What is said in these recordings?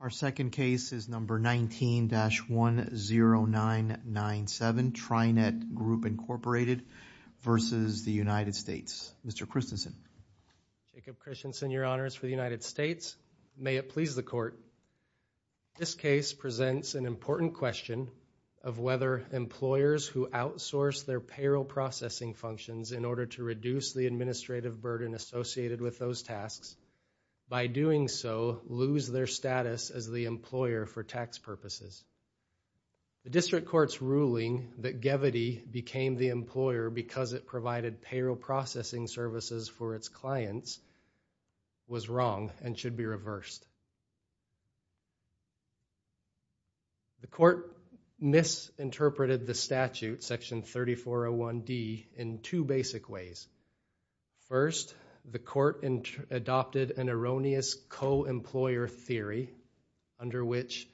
Our second case is number 19-10997, Trinet Group Inc. v. United States. Mr. Christensen. Jacob Christensen, Your Honors, for the United States. May it please the Court. This case presents an important question of whether employers who outsource their payroll processing functions in order to reduce the administrative burden associated with those tasks by doing so lose their status as the employer for tax purposes. The District Court's ruling that Gevity became the employer because it provided payroll processing services for its clients was wrong and should be reversed. The Court misinterpreted the statute, Section 3401D, in two basic ways. First, the Court adopted an erroneous co-employer theory under which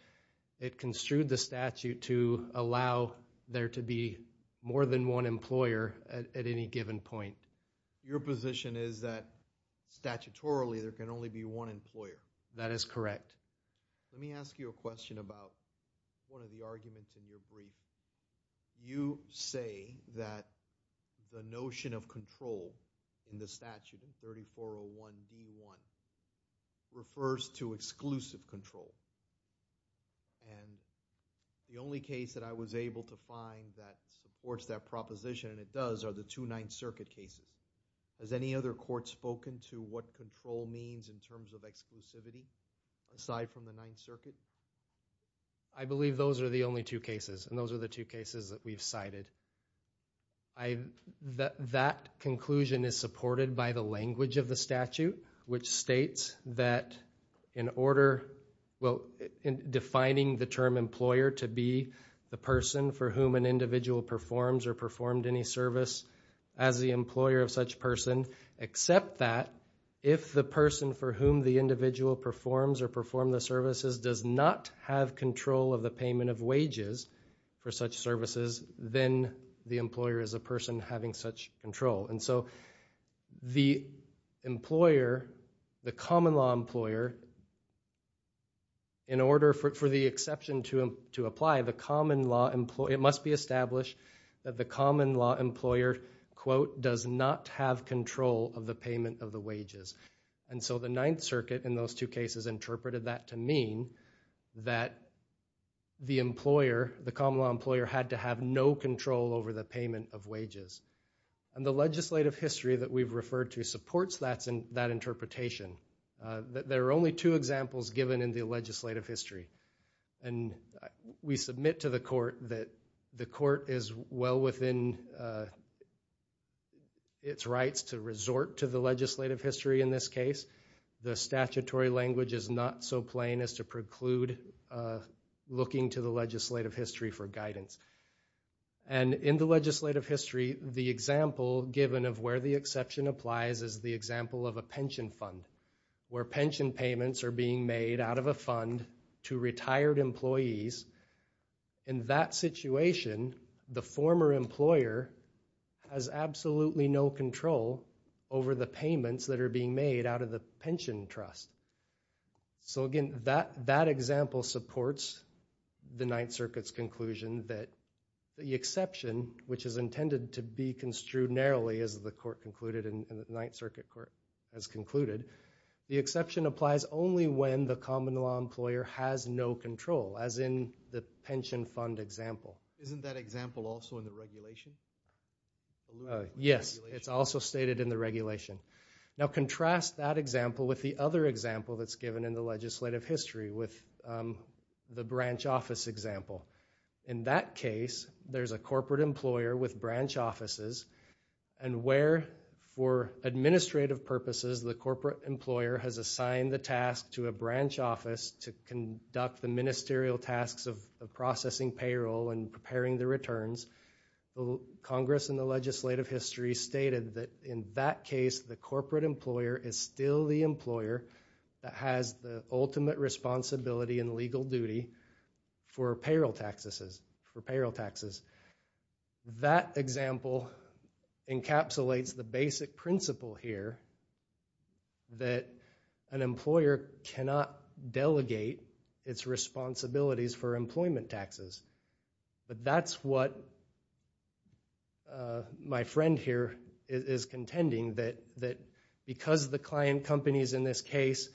it construed the statute to allow there to be more than one employer at any given point. Your position is that statutorily there can only be one employer? That is correct. Let me ask you a question about one of the arguments in your brief. You say that the notion of control in the statute, in 3401D-1, refers to exclusive control. And the only case that I was able to find that supports that proposition, and it does, are the Two-Ninth Circuit cases. Has any other court spoken to what control means in terms of exclusivity aside from the Ninth Circuit? I believe those are the only two cases, and those are the two cases that we've cited. That conclusion is supported by the language of the statute, which states that in order, well, in defining the term employer to be the person for whom an individual performs or performed any service as the employer of such person, except that if the person for the individual performs or perform the services does not have control of the payment of wages for such services, then the employer is a person having such control. And so the employer, the common law employer, in order for the exception to apply, the common law employer, it must be established that the common law employer, quote, does not have control of the payment of the wages. And so the Ninth Circuit in those two cases interpreted that to mean that the employer, the common law employer had to have no control over the payment of wages. And the legislative history that we've referred to supports that interpretation. There are only two examples given in the legislative history. And we submit to the court that the court is well within its rights to resort to the statutory language in this case. The statutory language is not so plain as to preclude looking to the legislative history for guidance. And in the legislative history, the example given of where the exception applies is the example of a pension fund, where pension payments are being made out of a fund to retired employees. In that situation, the former employer has absolutely no control over the payments that are being made out of the pension trust. So again, that example supports the Ninth Circuit's conclusion that the exception, which is intended to be construed narrowly as the court concluded and the Ninth Circuit court has concluded, the exception applies only when the common law employer has no control, as in the pension fund example. Isn't that example also in the regulation? Yes, it's also stated in the regulation. Now, contrast that example with the other example that's given in the legislative history with the branch office example. In that case, there's a corporate employer with branch offices and where, for administrative purposes, the corporate employer has assigned the task to a branch office to conduct the ministerial tasks of processing payroll and preparing the returns. The Congress in the legislative history stated that in that case, the corporate employer is still the employer that has the ultimate responsibility and legal duty for payroll taxes. That example encapsulates the basic principle here that an employer cannot delegate its responsibilities for employment taxes. But that's what my friend here is contending, that because the client companies in this case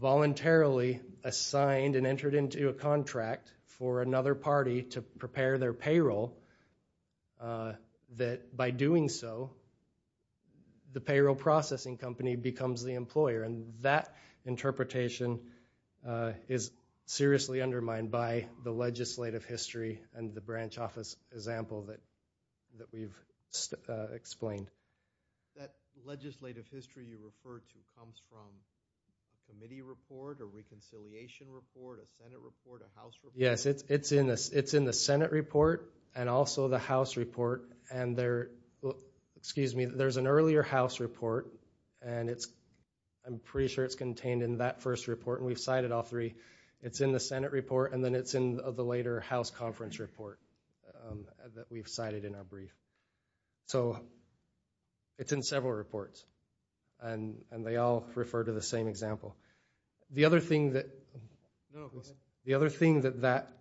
voluntarily assigned and entered into a contract for another party to prepare their payroll, that by doing so, the payroll processing company becomes the employer. That interpretation is seriously undermined by the legislative history and the branch office example that we've explained. That legislative history you referred to comes from a committee report, a reconciliation report, a Senate report, a House report? Yes, it's in the Senate report and also the House report. And there's an earlier House report, and I'm pretty sure it's contained in that first report, and we've cited all three. It's in the Senate report, and then it's in the later House conference report that we've cited in our brief. So it's in several reports, and they all refer to the same example. The other thing that that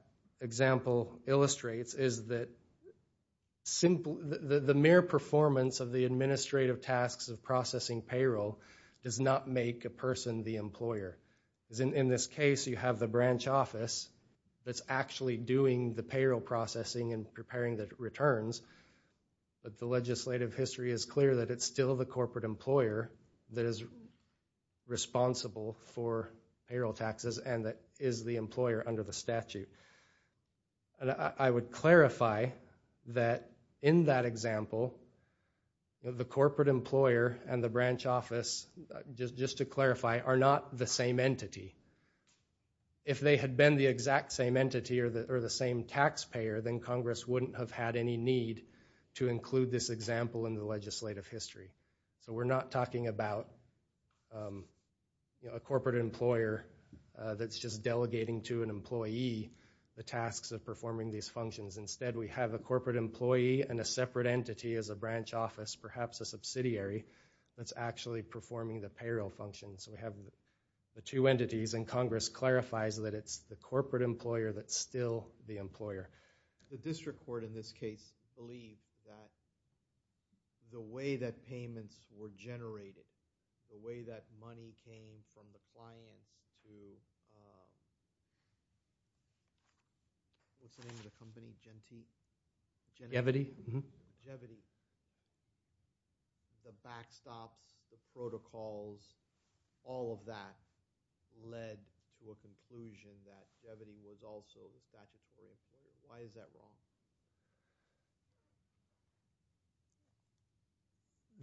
example illustrates is that the mere performance of the administrative tasks of processing payroll does not make a person the employer. In this case, you have the branch office that's actually doing the payroll processing and preparing the returns, but the legislative history is clear that it's still the corporate employer that is responsible for payroll taxes and that is the employer under the statute. I would clarify that in that example, the corporate employer and the branch office, just to clarify, are not the same entity. If they had been the exact same entity or the same taxpayer, then Congress wouldn't have had any need to include this example in the legislative history. So we're not talking about a corporate employer that's just delegating to an employee the tasks of performing these functions. Instead, we have a corporate employee and a separate entity as a branch office, perhaps a subsidiary, that's actually performing the payroll functions. We have the two entities, and Congress clarifies that it's the corporate employer that's still the employer. The district court, in this case, believes that the way that payments were generated, the way that money came from the client to listening to the company's generation, the backstop, the protocols, all of that led to a conclusion that Jevity was also a corporate employer.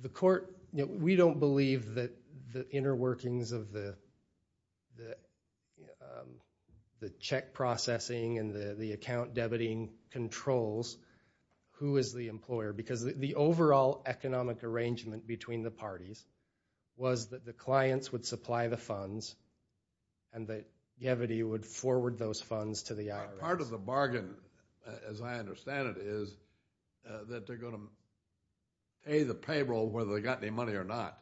The court, we don't believe that the inner workings of the check processing and the account debiting controls who is the employer, because the overall economic arrangement between the parties was that the clients would supply the funds and that Jevity would forward those funds to the IRS. Part of the bargain, as I understand it, is that they're going to pay the payroll whether they got any money or not.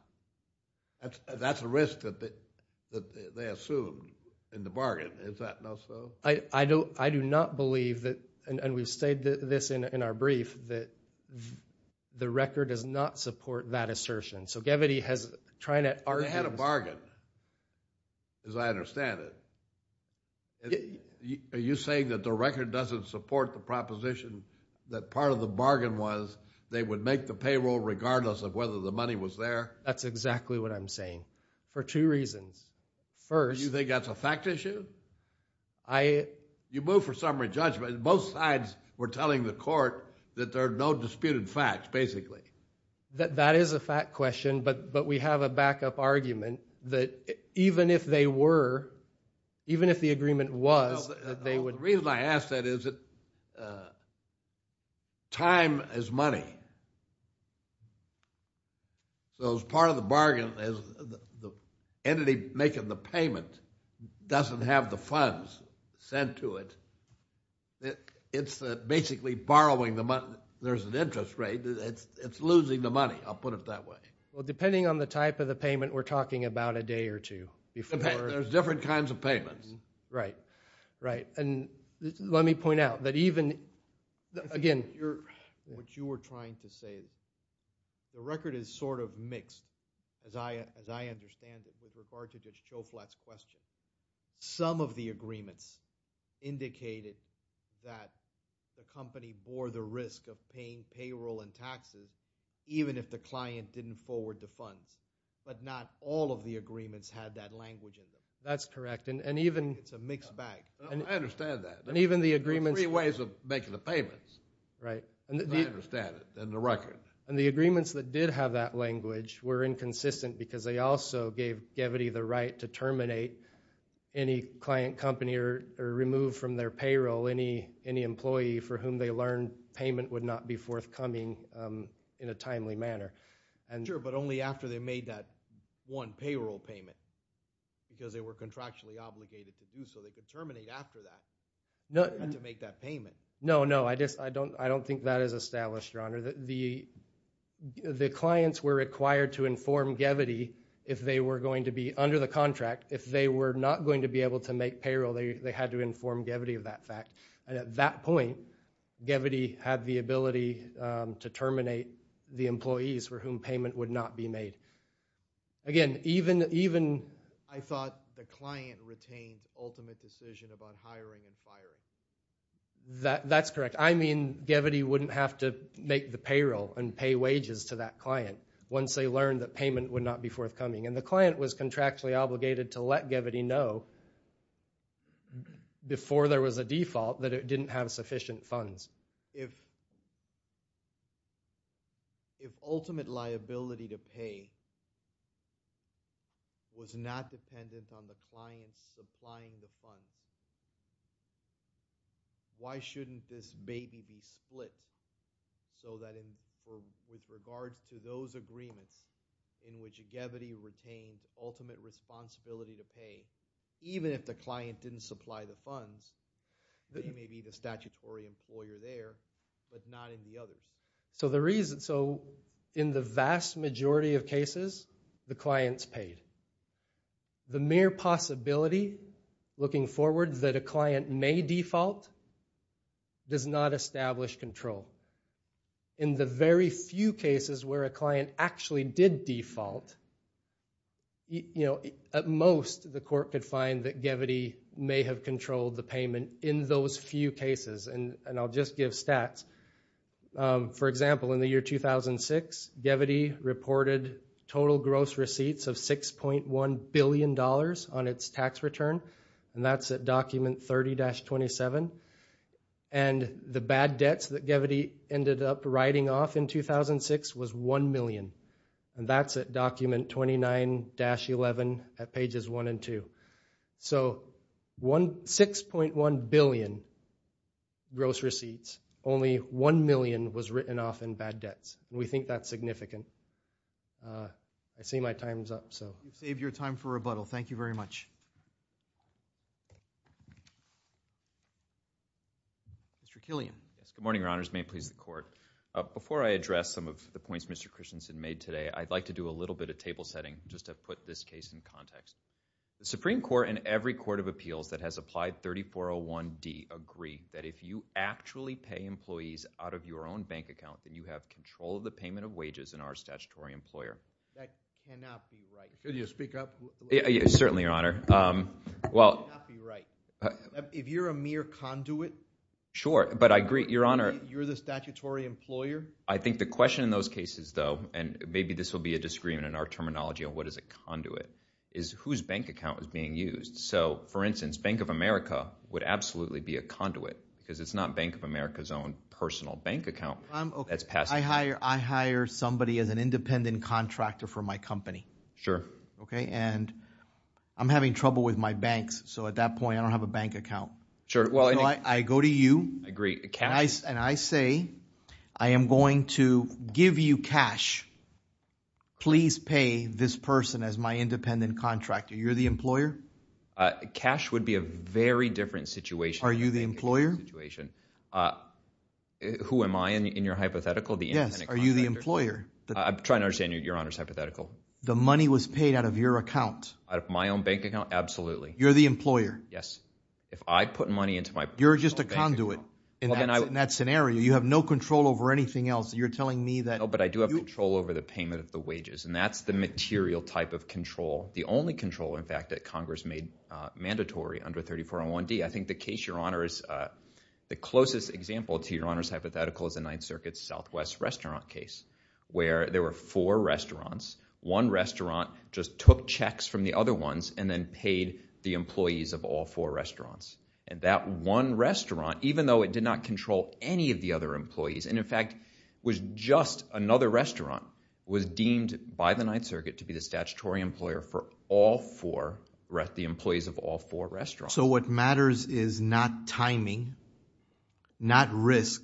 That's a risk that they assumed in the bargain. Is that not so? I do not believe that, and we've stated this in our brief, that the record does not support that assertion. So Jevity has tried to argue— They had a bargain, as I understand it. Are you saying that the record doesn't support the proposition that part of the bargain was they would make the payroll regardless of whether the money was there? That's exactly what I'm saying, for two reasons. First— You think that's a fact issue? You move for summary judgment. Both sides were telling the court that there are no disputed facts, basically. That is a fact question, but we have a backup argument that even if they were, even if the agreement was that they would— The reason I ask that is that time is money. So as part of the bargain, as the entity making the payment doesn't have the funds sent to it, it's basically borrowing the money. There's an interest rate. It's losing the money. I'll put it that way. Well, depending on the type of the payment we're talking about, a day or two before— There's different kinds of payments. Right, right. And let me point out that even— Again, you're— What you were trying to say is the record is sort of mixed, as I understand it, with regard to just Choflat's question. Some of the agreements indicated that the company bore the risk of paying payroll and taxes even if the client didn't forward the funds, but not all of the agreements had that language in them. That's correct, and even— It's a mixed bag. I understand that. And even the agreements— There were three ways of making the payments. Right. I understand it in the record. And the agreements that did have that language were inconsistent because they also gave Gevity the right to terminate any client company or remove from their payroll any employee for whom they learned payment would not be forthcoming in a timely manner. Sure, but only after they made that one payroll payment, because they were contractually obligated to do so. They could terminate after that to make that payment. No, no, I don't think that is established, Your Honor. The clients were required to inform Gevity if they were going to be— Under the contract, if they were not going to be able to make payroll, they had to inform Gevity of that fact. And at that point, Gevity had the ability to terminate the employees for whom payment would not be made. Again, even— I thought the client retained ultimate decision about hiring and firing. That's correct. I mean, Gevity wouldn't have to make the payroll and pay wages to that client once they learned that payment would not be forthcoming. And the client was contractually obligated to let Gevity know that before there was a default, that it didn't have sufficient funds. If ultimate liability to pay was not dependent on the client supplying the funds, why shouldn't this baby be split so that with regard to those agreements in which Gevity retained ultimate responsibility to pay, even if the client didn't supply the funds, they may be the statutory employer there, but not in the other? So the reason— So in the vast majority of cases, the client's paid. The mere possibility, looking forward, that a client may default does not establish control. In the very few cases where a client actually did default, you know, at most, the court could find that Gevity may have controlled the payment in those few cases. And I'll just give stats. For example, in the year 2006, Gevity reported total gross receipts of $6.1 billion on its tax return. And that's at document 30-27. And the bad debts that Gevity ended up writing off in 2006 was $1 million. And that's at document 29-11 at pages 1 and 2. So $6.1 billion gross receipts, only $1 million was written off in bad debts. We think that's significant. I see my time's up, so— You've saved your time for rebuttal. Thank you very much. Mr. Killian. Good morning, your honors. May it please the court. Before I address some of the points Mr. Christensen made today, I'd like to do a little bit of table setting, just to put this case in context. The Supreme Court and every court of appeals that has applied 3401D agree that if you actually pay employees out of your own bank account, that you have control of the payment of wages in our statutory employer. That cannot be right. Could you speak up? Certainly, your honor. Well— That cannot be right. If you're a mere conduit— Sure, but I agree, your honor— You're the statutory employer. I think the question in those cases, though, and maybe this will be a disagreement in our terminology on what is a conduit, is whose bank account is being used. So, for instance, Bank of America would absolutely be a conduit, because it's not Bank of America's own personal bank account. I hire somebody as an independent contractor for my company. Sure. Okay, and I'm having trouble with my banks, so at that point, I don't have a bank account. Sure, well— I go to you— I agree, cash— And I say, I am going to give you cash. Please pay this person as my independent contractor. You're the employer? Cash would be a very different situation— Are you the employer? Who am I in your hypothetical? Yes, are you the employer? I'm trying to understand your honor's hypothetical. The money was paid out of your account. Out of my own bank account? Absolutely. You're the employer. Yes. If I put money into my— You're just a conduit. In that scenario, you have no control over anything else. You're telling me that— No, but I do have control over the payment of the wages, and that's the material type of control. The only control, in fact, that Congress made mandatory under 3401D. I think the case, your honor, is— the closest example to your honor's hypothetical is the Ninth Circuit Southwest restaurant case, where there were four restaurants. One restaurant just took checks from the other ones and then paid the employees of all four restaurants. And that one restaurant, even though it did not control any of the other employees, and in fact was just another restaurant, was deemed by the Ninth Circuit to be the statutory employer for all four—the employees of all four restaurants. So what matters is not timing, not risk,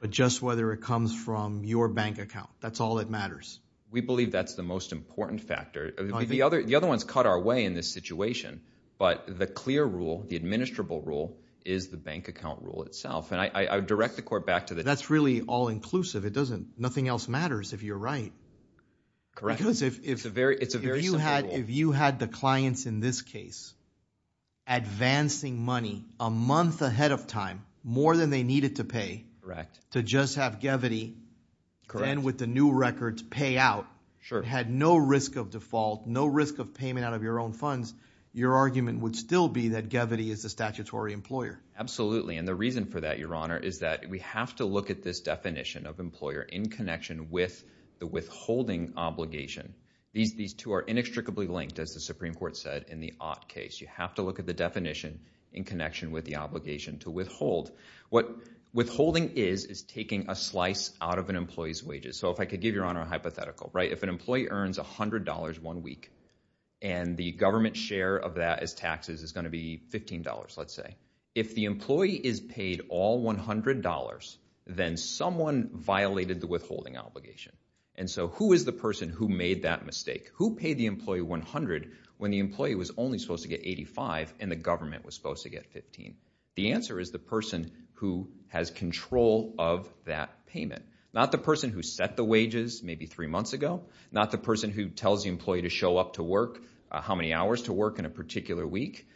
but just whether it comes from your bank account. That's all that matters. We believe that's the most important factor. The other one's cut our way in this situation, but the clear rule, the administrable rule, is the bank account rule itself. And I direct the court back to the— That's really all-inclusive. It doesn't—nothing else matters, if you're right. Correct. Because if you had the clients in this case advancing money a month ahead of time, more than they needed to pay— Correct. —to just have Gevity then, with the new records, pay out— Sure. —had no risk of default, no risk of payment out of your own funds, your argument would still be that Gevity is the statutory employer. Absolutely. And the reason for that, Your Honor, is that we have to look at this definition of employer in connection with the withholding obligation. These two are inextricably linked, as the Supreme Court said in the Ott case. You have to look at the definition in connection with the obligation to withhold. What withholding is, is taking a slice out of an employee's wages. So if I could give Your Honor a hypothetical, right? If an employee earns $100 one week and the government's share of that as taxes is going to be $15, let's say. If the employee is paid all $100, then someone violated the withholding obligation. And so who is the person who made that mistake? Who paid the employee $100 when the employee was only supposed to get $85 and the government was supposed to get $15? The answer is the person who has control of that payment. Not the person who set the wages maybe three months ago. Not the person who tells the employee to show up to work, how many hours to work in a particular week.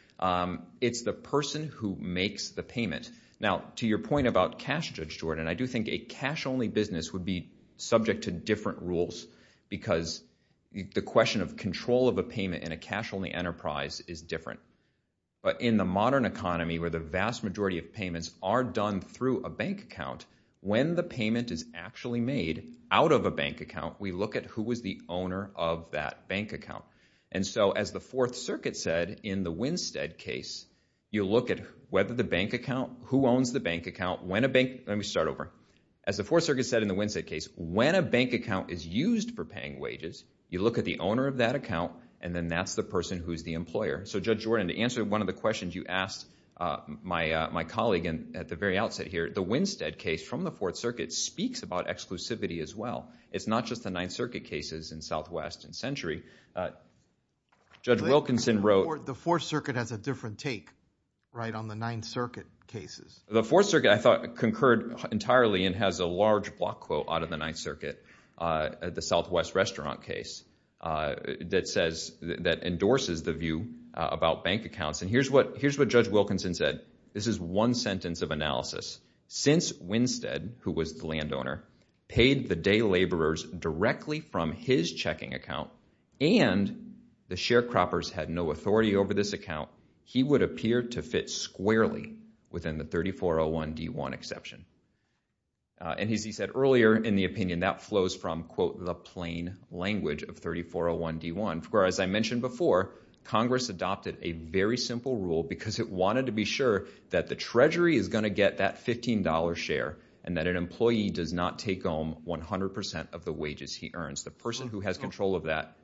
It's the person who makes the payment. Now, to your point about cash, Judge Jordan, I do think a cash-only business would be subject to different rules because the question of control of a payment in a cash-only enterprise is different. But in the modern economy, where the vast majority of payments are done through a bank account, when the payment is actually made out of a bank account, we look at who was the owner of that bank account. And so as the Fourth Circuit said in the Winstead case, you look at whether the bank account, who owns the bank account, when a bank... Let me start over. As the Fourth Circuit said in the Winstead case, when a bank account is used for paying wages, you look at the owner of that account and then that's the person who's the employer. So Judge Jordan, to answer one of the questions you asked my colleague at the very outset here, the Winstead case from the Fourth Circuit speaks about exclusivity as well. It's not just the Ninth Circuit cases in Southwest and Century. Judge Wilkinson wrote... The Fourth Circuit has a different take, right, on the Ninth Circuit cases. The Fourth Circuit, I thought, concurred entirely and has a large block quote out of the Ninth Circuit, the Southwest Restaurant case, that says, that endorses the view about bank accounts. And here's what Judge Wilkinson said. This is one sentence of analysis. Since Winstead, who was the landowner, paid the day laborers directly from his checking account and the sharecroppers had no authority over this account, he would appear to fit squarely within the 3401D1 exception. And as he said earlier, in the opinion, that flows from, quote, the plain language of 3401D1. For as I mentioned before, Congress adopted a very simple rule because it wanted to be sure that the Treasury is gonna get that $15 share and that an employee does not take home 100% of the wages he earns. The person who has control of that...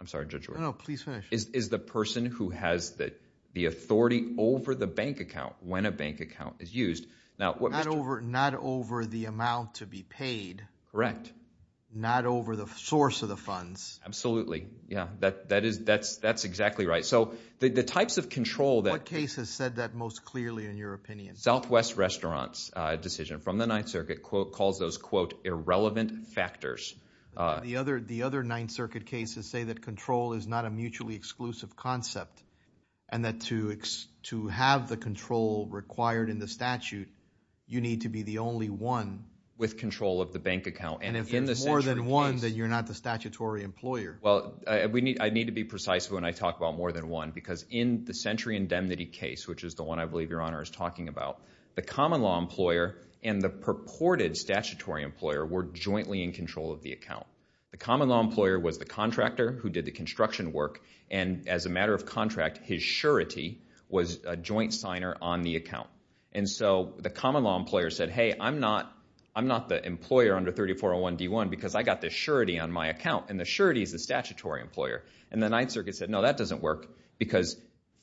I'm sorry, Judge Wilkinson. No, no, please finish. Is the person who has the authority over the bank account when a bank account is used. Now, what Mr... Not over the amount to be paid. Correct. Not over the source of the funds. Absolutely, yeah. That is, that's exactly right. So the types of control that... What case has said that most clearly in your opinion? Southwest Restaurants' decision from the Ninth Circuit calls those, quote, irrelevant factors. The other Ninth Circuit cases say that control is not a mutually exclusive concept and that to have the control required in the statute, you need to be the only one... With control of the bank account. And if there's more than one, then you're not the statutory employer. Well, I need to be precise when I talk about more than one because in the Century Indemnity case, which is the one I believe Your Honor is talking about, the common law employer and the purported statutory employer were jointly in control of the account. The common law employer was the contractor who did the construction work and as a matter of contract, his surety was a joint signer on the account. And so the common law employer said, hey, I'm not the employer under 3401 D1 because I got the surety on my account and the surety is the statutory employer. And the Ninth Circuit said, no, that doesn't work because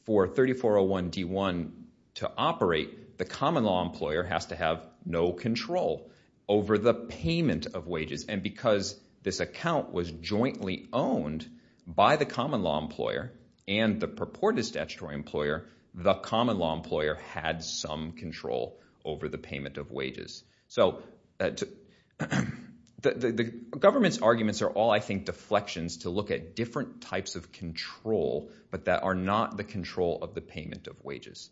for 3401 D1 to operate, the common law employer has to have no control over the payment of wages. And because this account was jointly owned by the common law employer and the purported statutory employer, the common law employer had some control over the payment of wages. So the government's arguments are all, I think, deflections to look at different types of control but that are not the control of the payment of wages.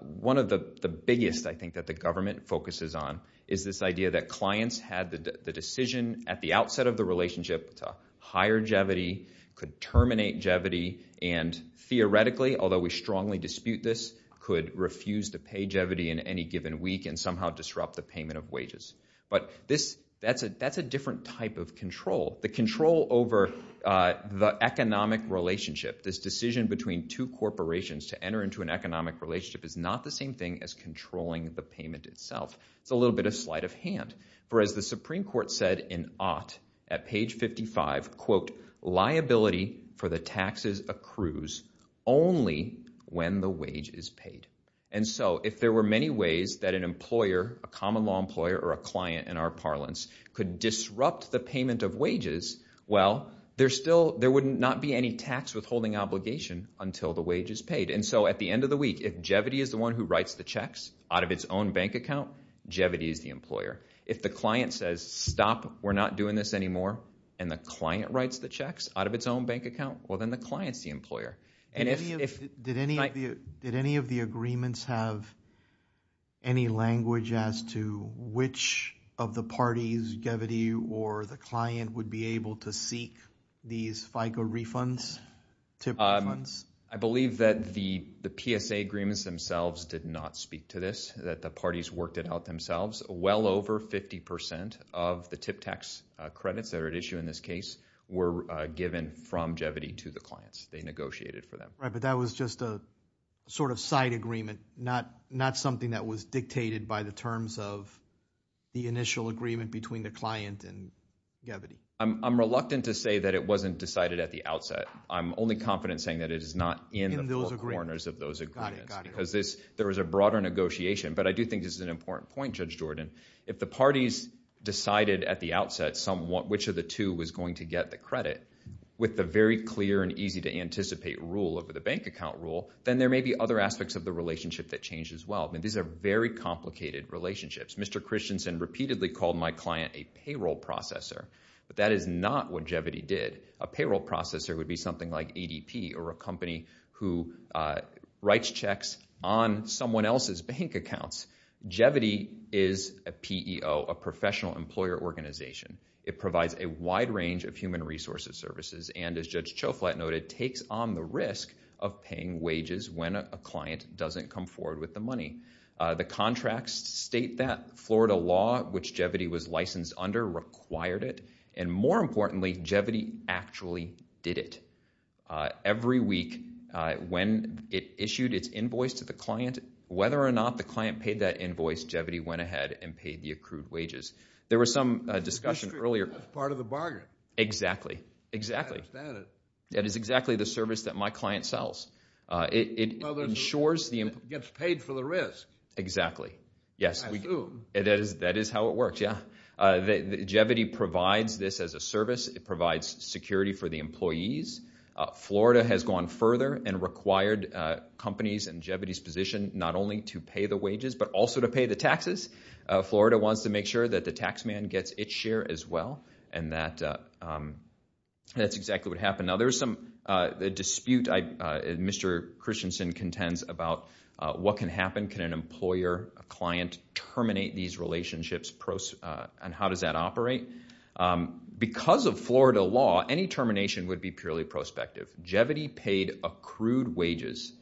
One of the biggest, I think, that the government focuses on is this idea that clients had the decision at the outset of the relationship to hire Jevity, could terminate Jevity, and theoretically, although we strongly dispute this, could refuse to pay Jevity in any given week and somehow disrupt the payment of wages. But that's a different type of control. The control over the economic relationship, this decision between two corporations to enter into an economic relationship is not the same thing as controlling the payment itself. It's a little bit of sleight of hand. For as the Supreme Court said in Ott at page 55, quote, liability for the taxes accrues only when the wage is paid. And so if there were many ways that an employer, a common law employer, or a client in our parlance could disrupt the payment of wages, well, there would not be any tax withholding obligation until the wage is paid. And so at the end of the week, if Jevity is the one who writes the checks out of its own bank account, Jevity is the employer. If the client says, stop, we're not doing this anymore, and the client writes the checks out of its own bank account, well, then the client's the employer. And if- Did any of the agreements have any language as to which of the parties, Jevity or the client, would be able to seek these FICA refunds? TIP refunds? I believe that the PSA agreements themselves did not speak to this, that the parties worked it out themselves. Well over 50% of the TIP tax credits that are at issue in this case were given from Jevity to the clients. They negotiated for them. Right, but that was just a sort of side agreement, not something that was dictated by the terms of the initial agreement between the client and Jevity. I'm reluctant to say that it wasn't decided at the outset. I'm only confident saying that it is not in the four corners of those agreements, because there was a broader negotiation. But I do think this is an important point, Judge Jordan. If the parties decided at the outset which of the two was going to get the credit, with the very clear and easy to anticipate rule over the bank account rule, then there may be other aspects of the relationship that change as well. I mean, these are very complicated relationships. Mr. Christensen repeatedly called my client a payroll processor, but that is not what Jevity did. A payroll processor would be something like ADP, or a company who writes checks on someone else's bank accounts. Jevity is a PEO, a professional employer organization. It provides a wide range of human resources services, and as Judge Choflat noted, takes on the risk of paying wages when a client doesn't come forward with the money. The contracts state that Florida law, which Jevity was licensed under, required it. And more importantly, Jevity actually did it. Every week, when it issued its invoice to the client, whether or not the client paid that invoice, Jevity went ahead and paid the accrued wages. There was some discussion earlier... That's part of the bargain. Exactly, exactly. I understand it. That is exactly the service that my client sells. It ensures the... Gets paid for the risk. Exactly, yes. That is how it works, yeah. Jevity provides this as a service. It provides security for the employees. Florida has gone further and required companies in Jevity's position, not only to pay the wages, but also to pay the taxes. Florida wants to make sure that the taxman gets its share as well, and that's exactly what happened. Now there's some dispute, Mr. Christensen contends, about what can happen. Can an employer, a client, terminate these relationships? And how does that operate? Because of Florida law, any termination would be purely prospective. Jevity paid accrued wages.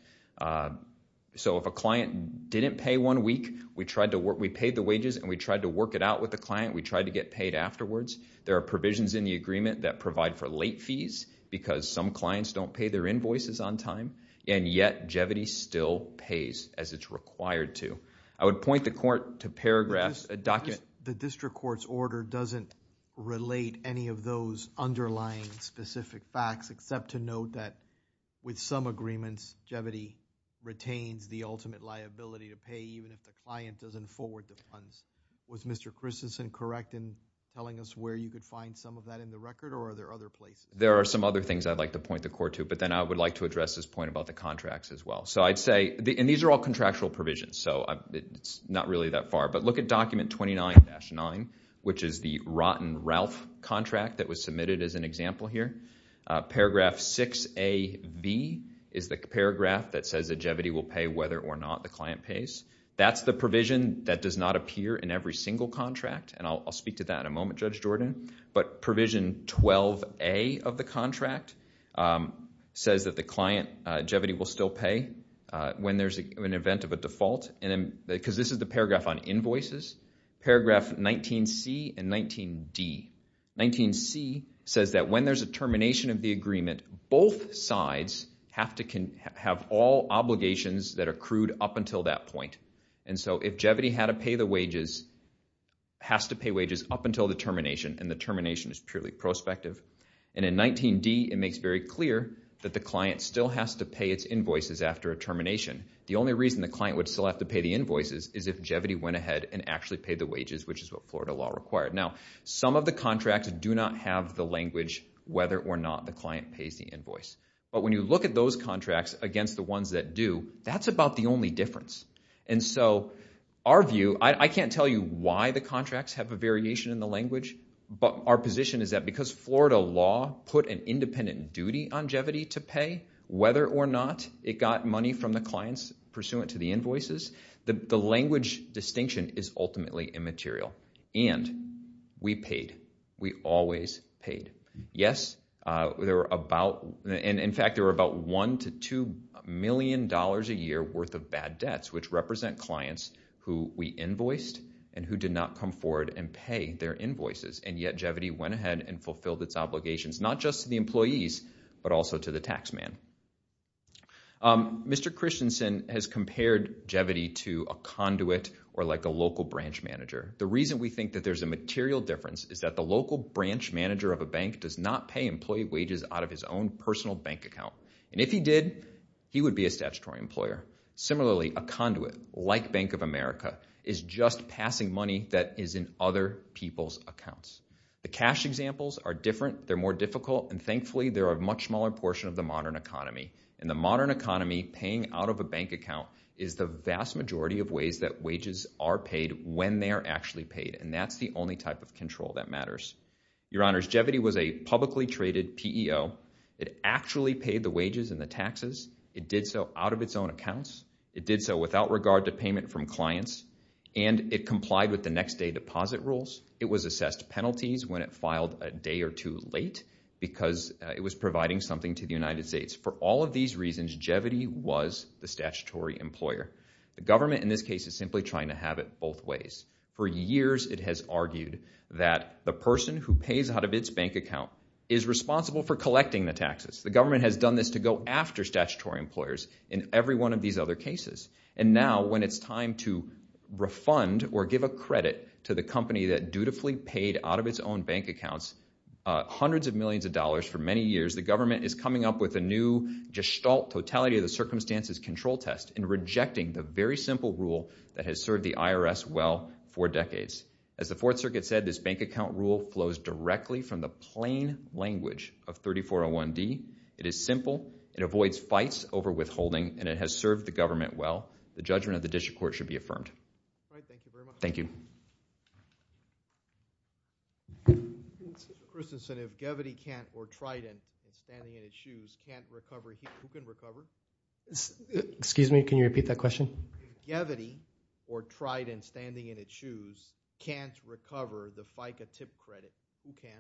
So if a client didn't pay one week, we paid the wages and we tried to work it out with the client. We tried to get paid afterwards. There are provisions in the agreement that provide for late fees because some clients don't pay their invoices on time, and yet Jevity still pays as it's required to. I would point the court to paragraphs, the district court's order doesn't relate any of those underlying specific facts, except to note that with some agreements, Jevity retains the ultimate liability to pay even if the client doesn't forward the funds. Was Mr. Christensen correct in telling us where you could find some of that in the record or are there other places? There are some other things I'd like to point the court to, but then I would like to address this point about the contracts as well. So I'd say, and these are all contractual provisions, so it's not really that far, but look at document 29-9, which is the Rotten Ralph contract that was submitted as an example here. Paragraph 6AV is the paragraph that says that Jevity will pay whether or not the client pays. That's the provision that does not appear in every single contract, and I'll speak to that in a moment, Judge Jordan, but provision 12A of the contract says that the client, Jevity, will still pay when there's an event of a default, because this is the paragraph on invoices, paragraph 19C and 19D. 19C says that when there's a termination of the agreement, both sides have to have all obligations that are accrued up until that point, and so if Jevity had to pay the wages, has to pay wages up until the termination, and the termination is purely prospective, and in 19D it makes very clear that the client still has to pay its invoices after a termination. The only reason the client would still have to pay the invoices is if Jevity went ahead and actually paid the wages, which is what Florida law required. Now, some of the contracts do not have the language whether or not the client pays the invoice, but when you look at those contracts against the ones that do, that's about the only difference, and so our view, I can't tell you why the contracts have a variation in the language, but our position is that because Florida law put an independent duty on Jevity to pay, whether or not it got money from the clients pursuant to the invoices, the language distinction is ultimately immaterial, and we paid. We always paid. Yes, there were about, and in fact there were about one to two million dollars a year worth of bad debts which represent clients who we invoiced and who did not come forward and pay their invoices, and yet Jevity went ahead and fulfilled its obligations not just to the employees but also to the taxman. Mr. Christensen has compared Jevity to a conduit or like a local branch manager. The reason we think that there's a material difference is that the local branch manager of a bank does not pay employee wages out of his own personal bank account, and if he did, he would be a statutory employer. Similarly, a conduit like Bank of America is just passing money that is in other people's accounts. The cash examples are different. They're more difficult, and thankfully, they're a much smaller portion of the modern economy. In the modern economy, paying out of a bank account is the vast majority of ways that wages are paid when they are actually paid, and that's the only type of control that matters. Your Honors, Jevity was a publicly traded PEO. It actually paid the wages and the taxes. It did so out of its own accounts. It did so without regard to payment from clients, and it complied with the next day deposit rules. It was assessed penalties when it filed a day or two late because it was providing something to the United States for all of these reasons. Jevity was the statutory employer. The government in this case is simply trying to have it both ways. For years, it has argued that the person who pays out of its bank account is responsible for collecting the taxes. The government has done this to go after statutory employers in every one of these other cases, and now when it's time to refund or give a credit to the company that dutifully paid out of its own bank accounts hundreds of millions of dollars for many years, the government is coming up with a new gestalt totality of the circumstances control test and rejecting the very simple rule that has served the IRS well for decades. As the Fourth Circuit said, this bank account rule flows directly from the plain language of 3401D. It is simple. It avoids fights over withholding, and it has served the government well. The judgment of the district court should be affirmed. All right. Thank you very much. Thank you. First incentive, Jevity can't or Trident standing in its shoes can't recover. Who can recover? Excuse me. Can you repeat that question? Jevity or Trident standing in its shoes can't recover the FICA tip credit. Who can?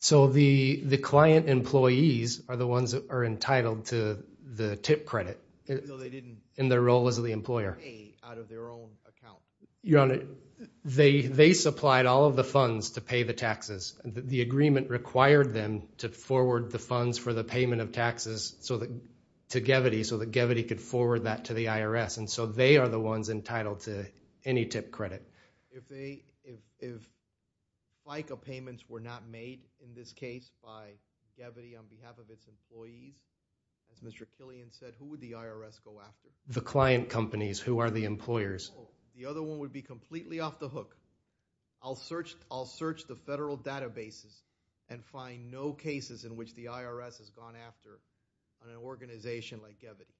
So the client employees are the ones that are entitled to the tip credit. In their role as the employer. Out of their own account. Your Honor, they supplied all of the funds to pay the taxes. The agreement required them to forward the funds for the payment of taxes to Jevity, so that Jevity could forward that to the IRS. And so they are the ones entitled to any tip credit. If FICA payments were not made in this case by Jevity on behalf of its employees, as Mr. Killian said, who would the IRS go after? The client companies who are the employers. The other one would be completely off the hook. I'll search. I'll search the federal databases and find no cases in which the IRS has gone after on an organization like Jevity.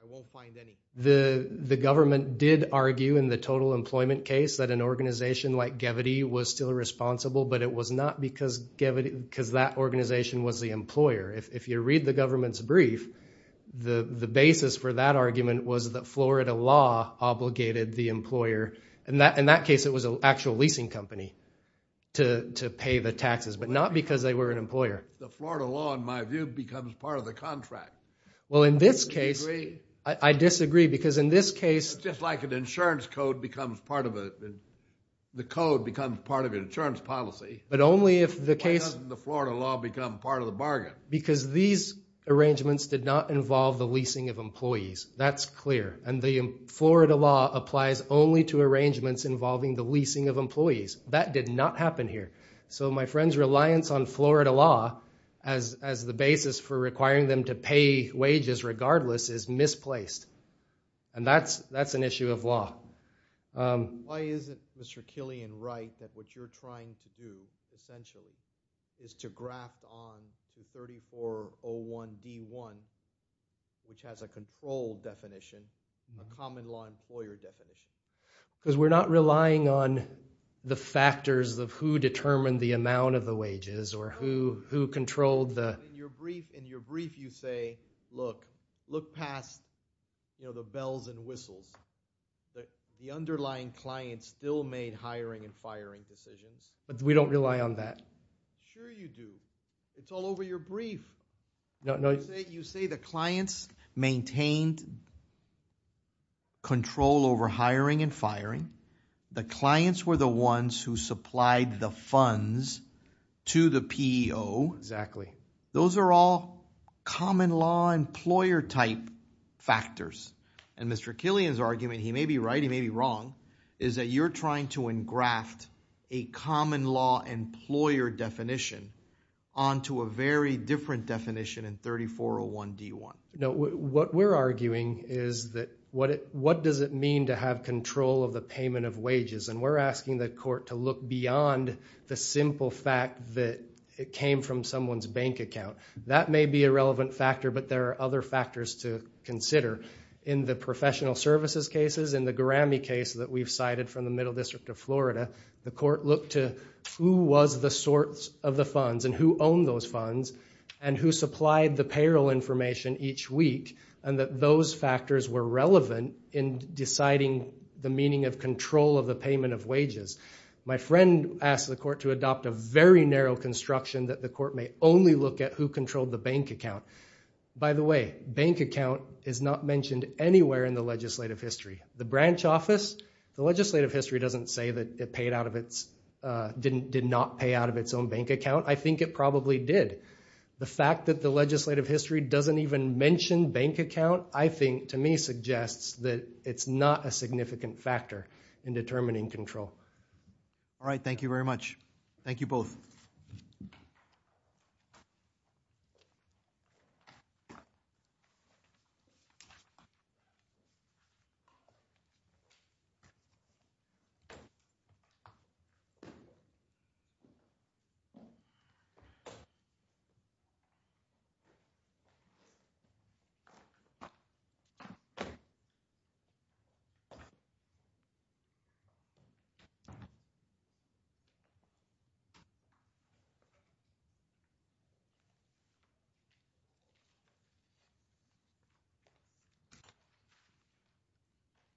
I won't find any. The government did argue in the total employment case that an organization like Jevity was still responsible, but it was not because Jevity, because that organization If you read the government's brief, the basis for that argument was that Florida law obligated the employer. In that case, it was an actual leasing company to pay the taxes, but not because they were an employer. The Florida law, in my view, becomes part of the contract. Well, in this case, I disagree because in this case, just like an insurance code becomes part of it, the code becomes part of an insurance policy. But only if the case, the Florida law become part of the bargain. Because these arrangements did not involve the leasing of employees. That's clear. And the Florida law applies only to arrangements involving the leasing of employees. That did not happen here. So my friend's reliance on Florida law as the basis for requiring them to pay wages regardless is misplaced. And that's an issue of law. Why is it, Mr. Killian, right that what you're trying to do, essentially, is to graft on the 3401D1, which has a control definition, a common law employer definition? Because we're not relying on the factors of who determined the amount of the wages or who controlled the... In your brief, you say, look, look past the bells and whistles. The underlying client still made hiring and firing decisions. But we don't rely on that. Sure you do. It's all over your brief. You say the clients maintained control over hiring and firing. The clients were the ones who supplied the funds to the PEO. Exactly. Those are all common law employer type factors. And Mr. Killian's argument, he may be right, he may be wrong, is that you're trying to engraft a common law employer definition onto a very different definition in 3401D1. No, what we're arguing is that what does it mean to have control of the payment of wages? And we're asking the court to look beyond the simple fact that it came from someone's bank account. That may be a relevant factor, but there are other factors to consider. In the professional services cases, in the Garammy case that we've cited from the Middle District of Florida, the court looked to who was the source of the funds and who owned those funds and who supplied the payroll information each week and that those factors were relevant in deciding the meaning of control of the payment of wages. My friend asked the court to adopt a very narrow construction that the court may only look at who controlled the bank account. By the way, bank account is not mentioned anywhere in the legislative history. The branch office, the legislative history doesn't say that it did not pay out of its own bank account. I think it probably did. The fact that the legislative history doesn't even mention bank account, I think to me suggests that it's not a significant factor in determining control. All right. Thank you very much. Thank you both.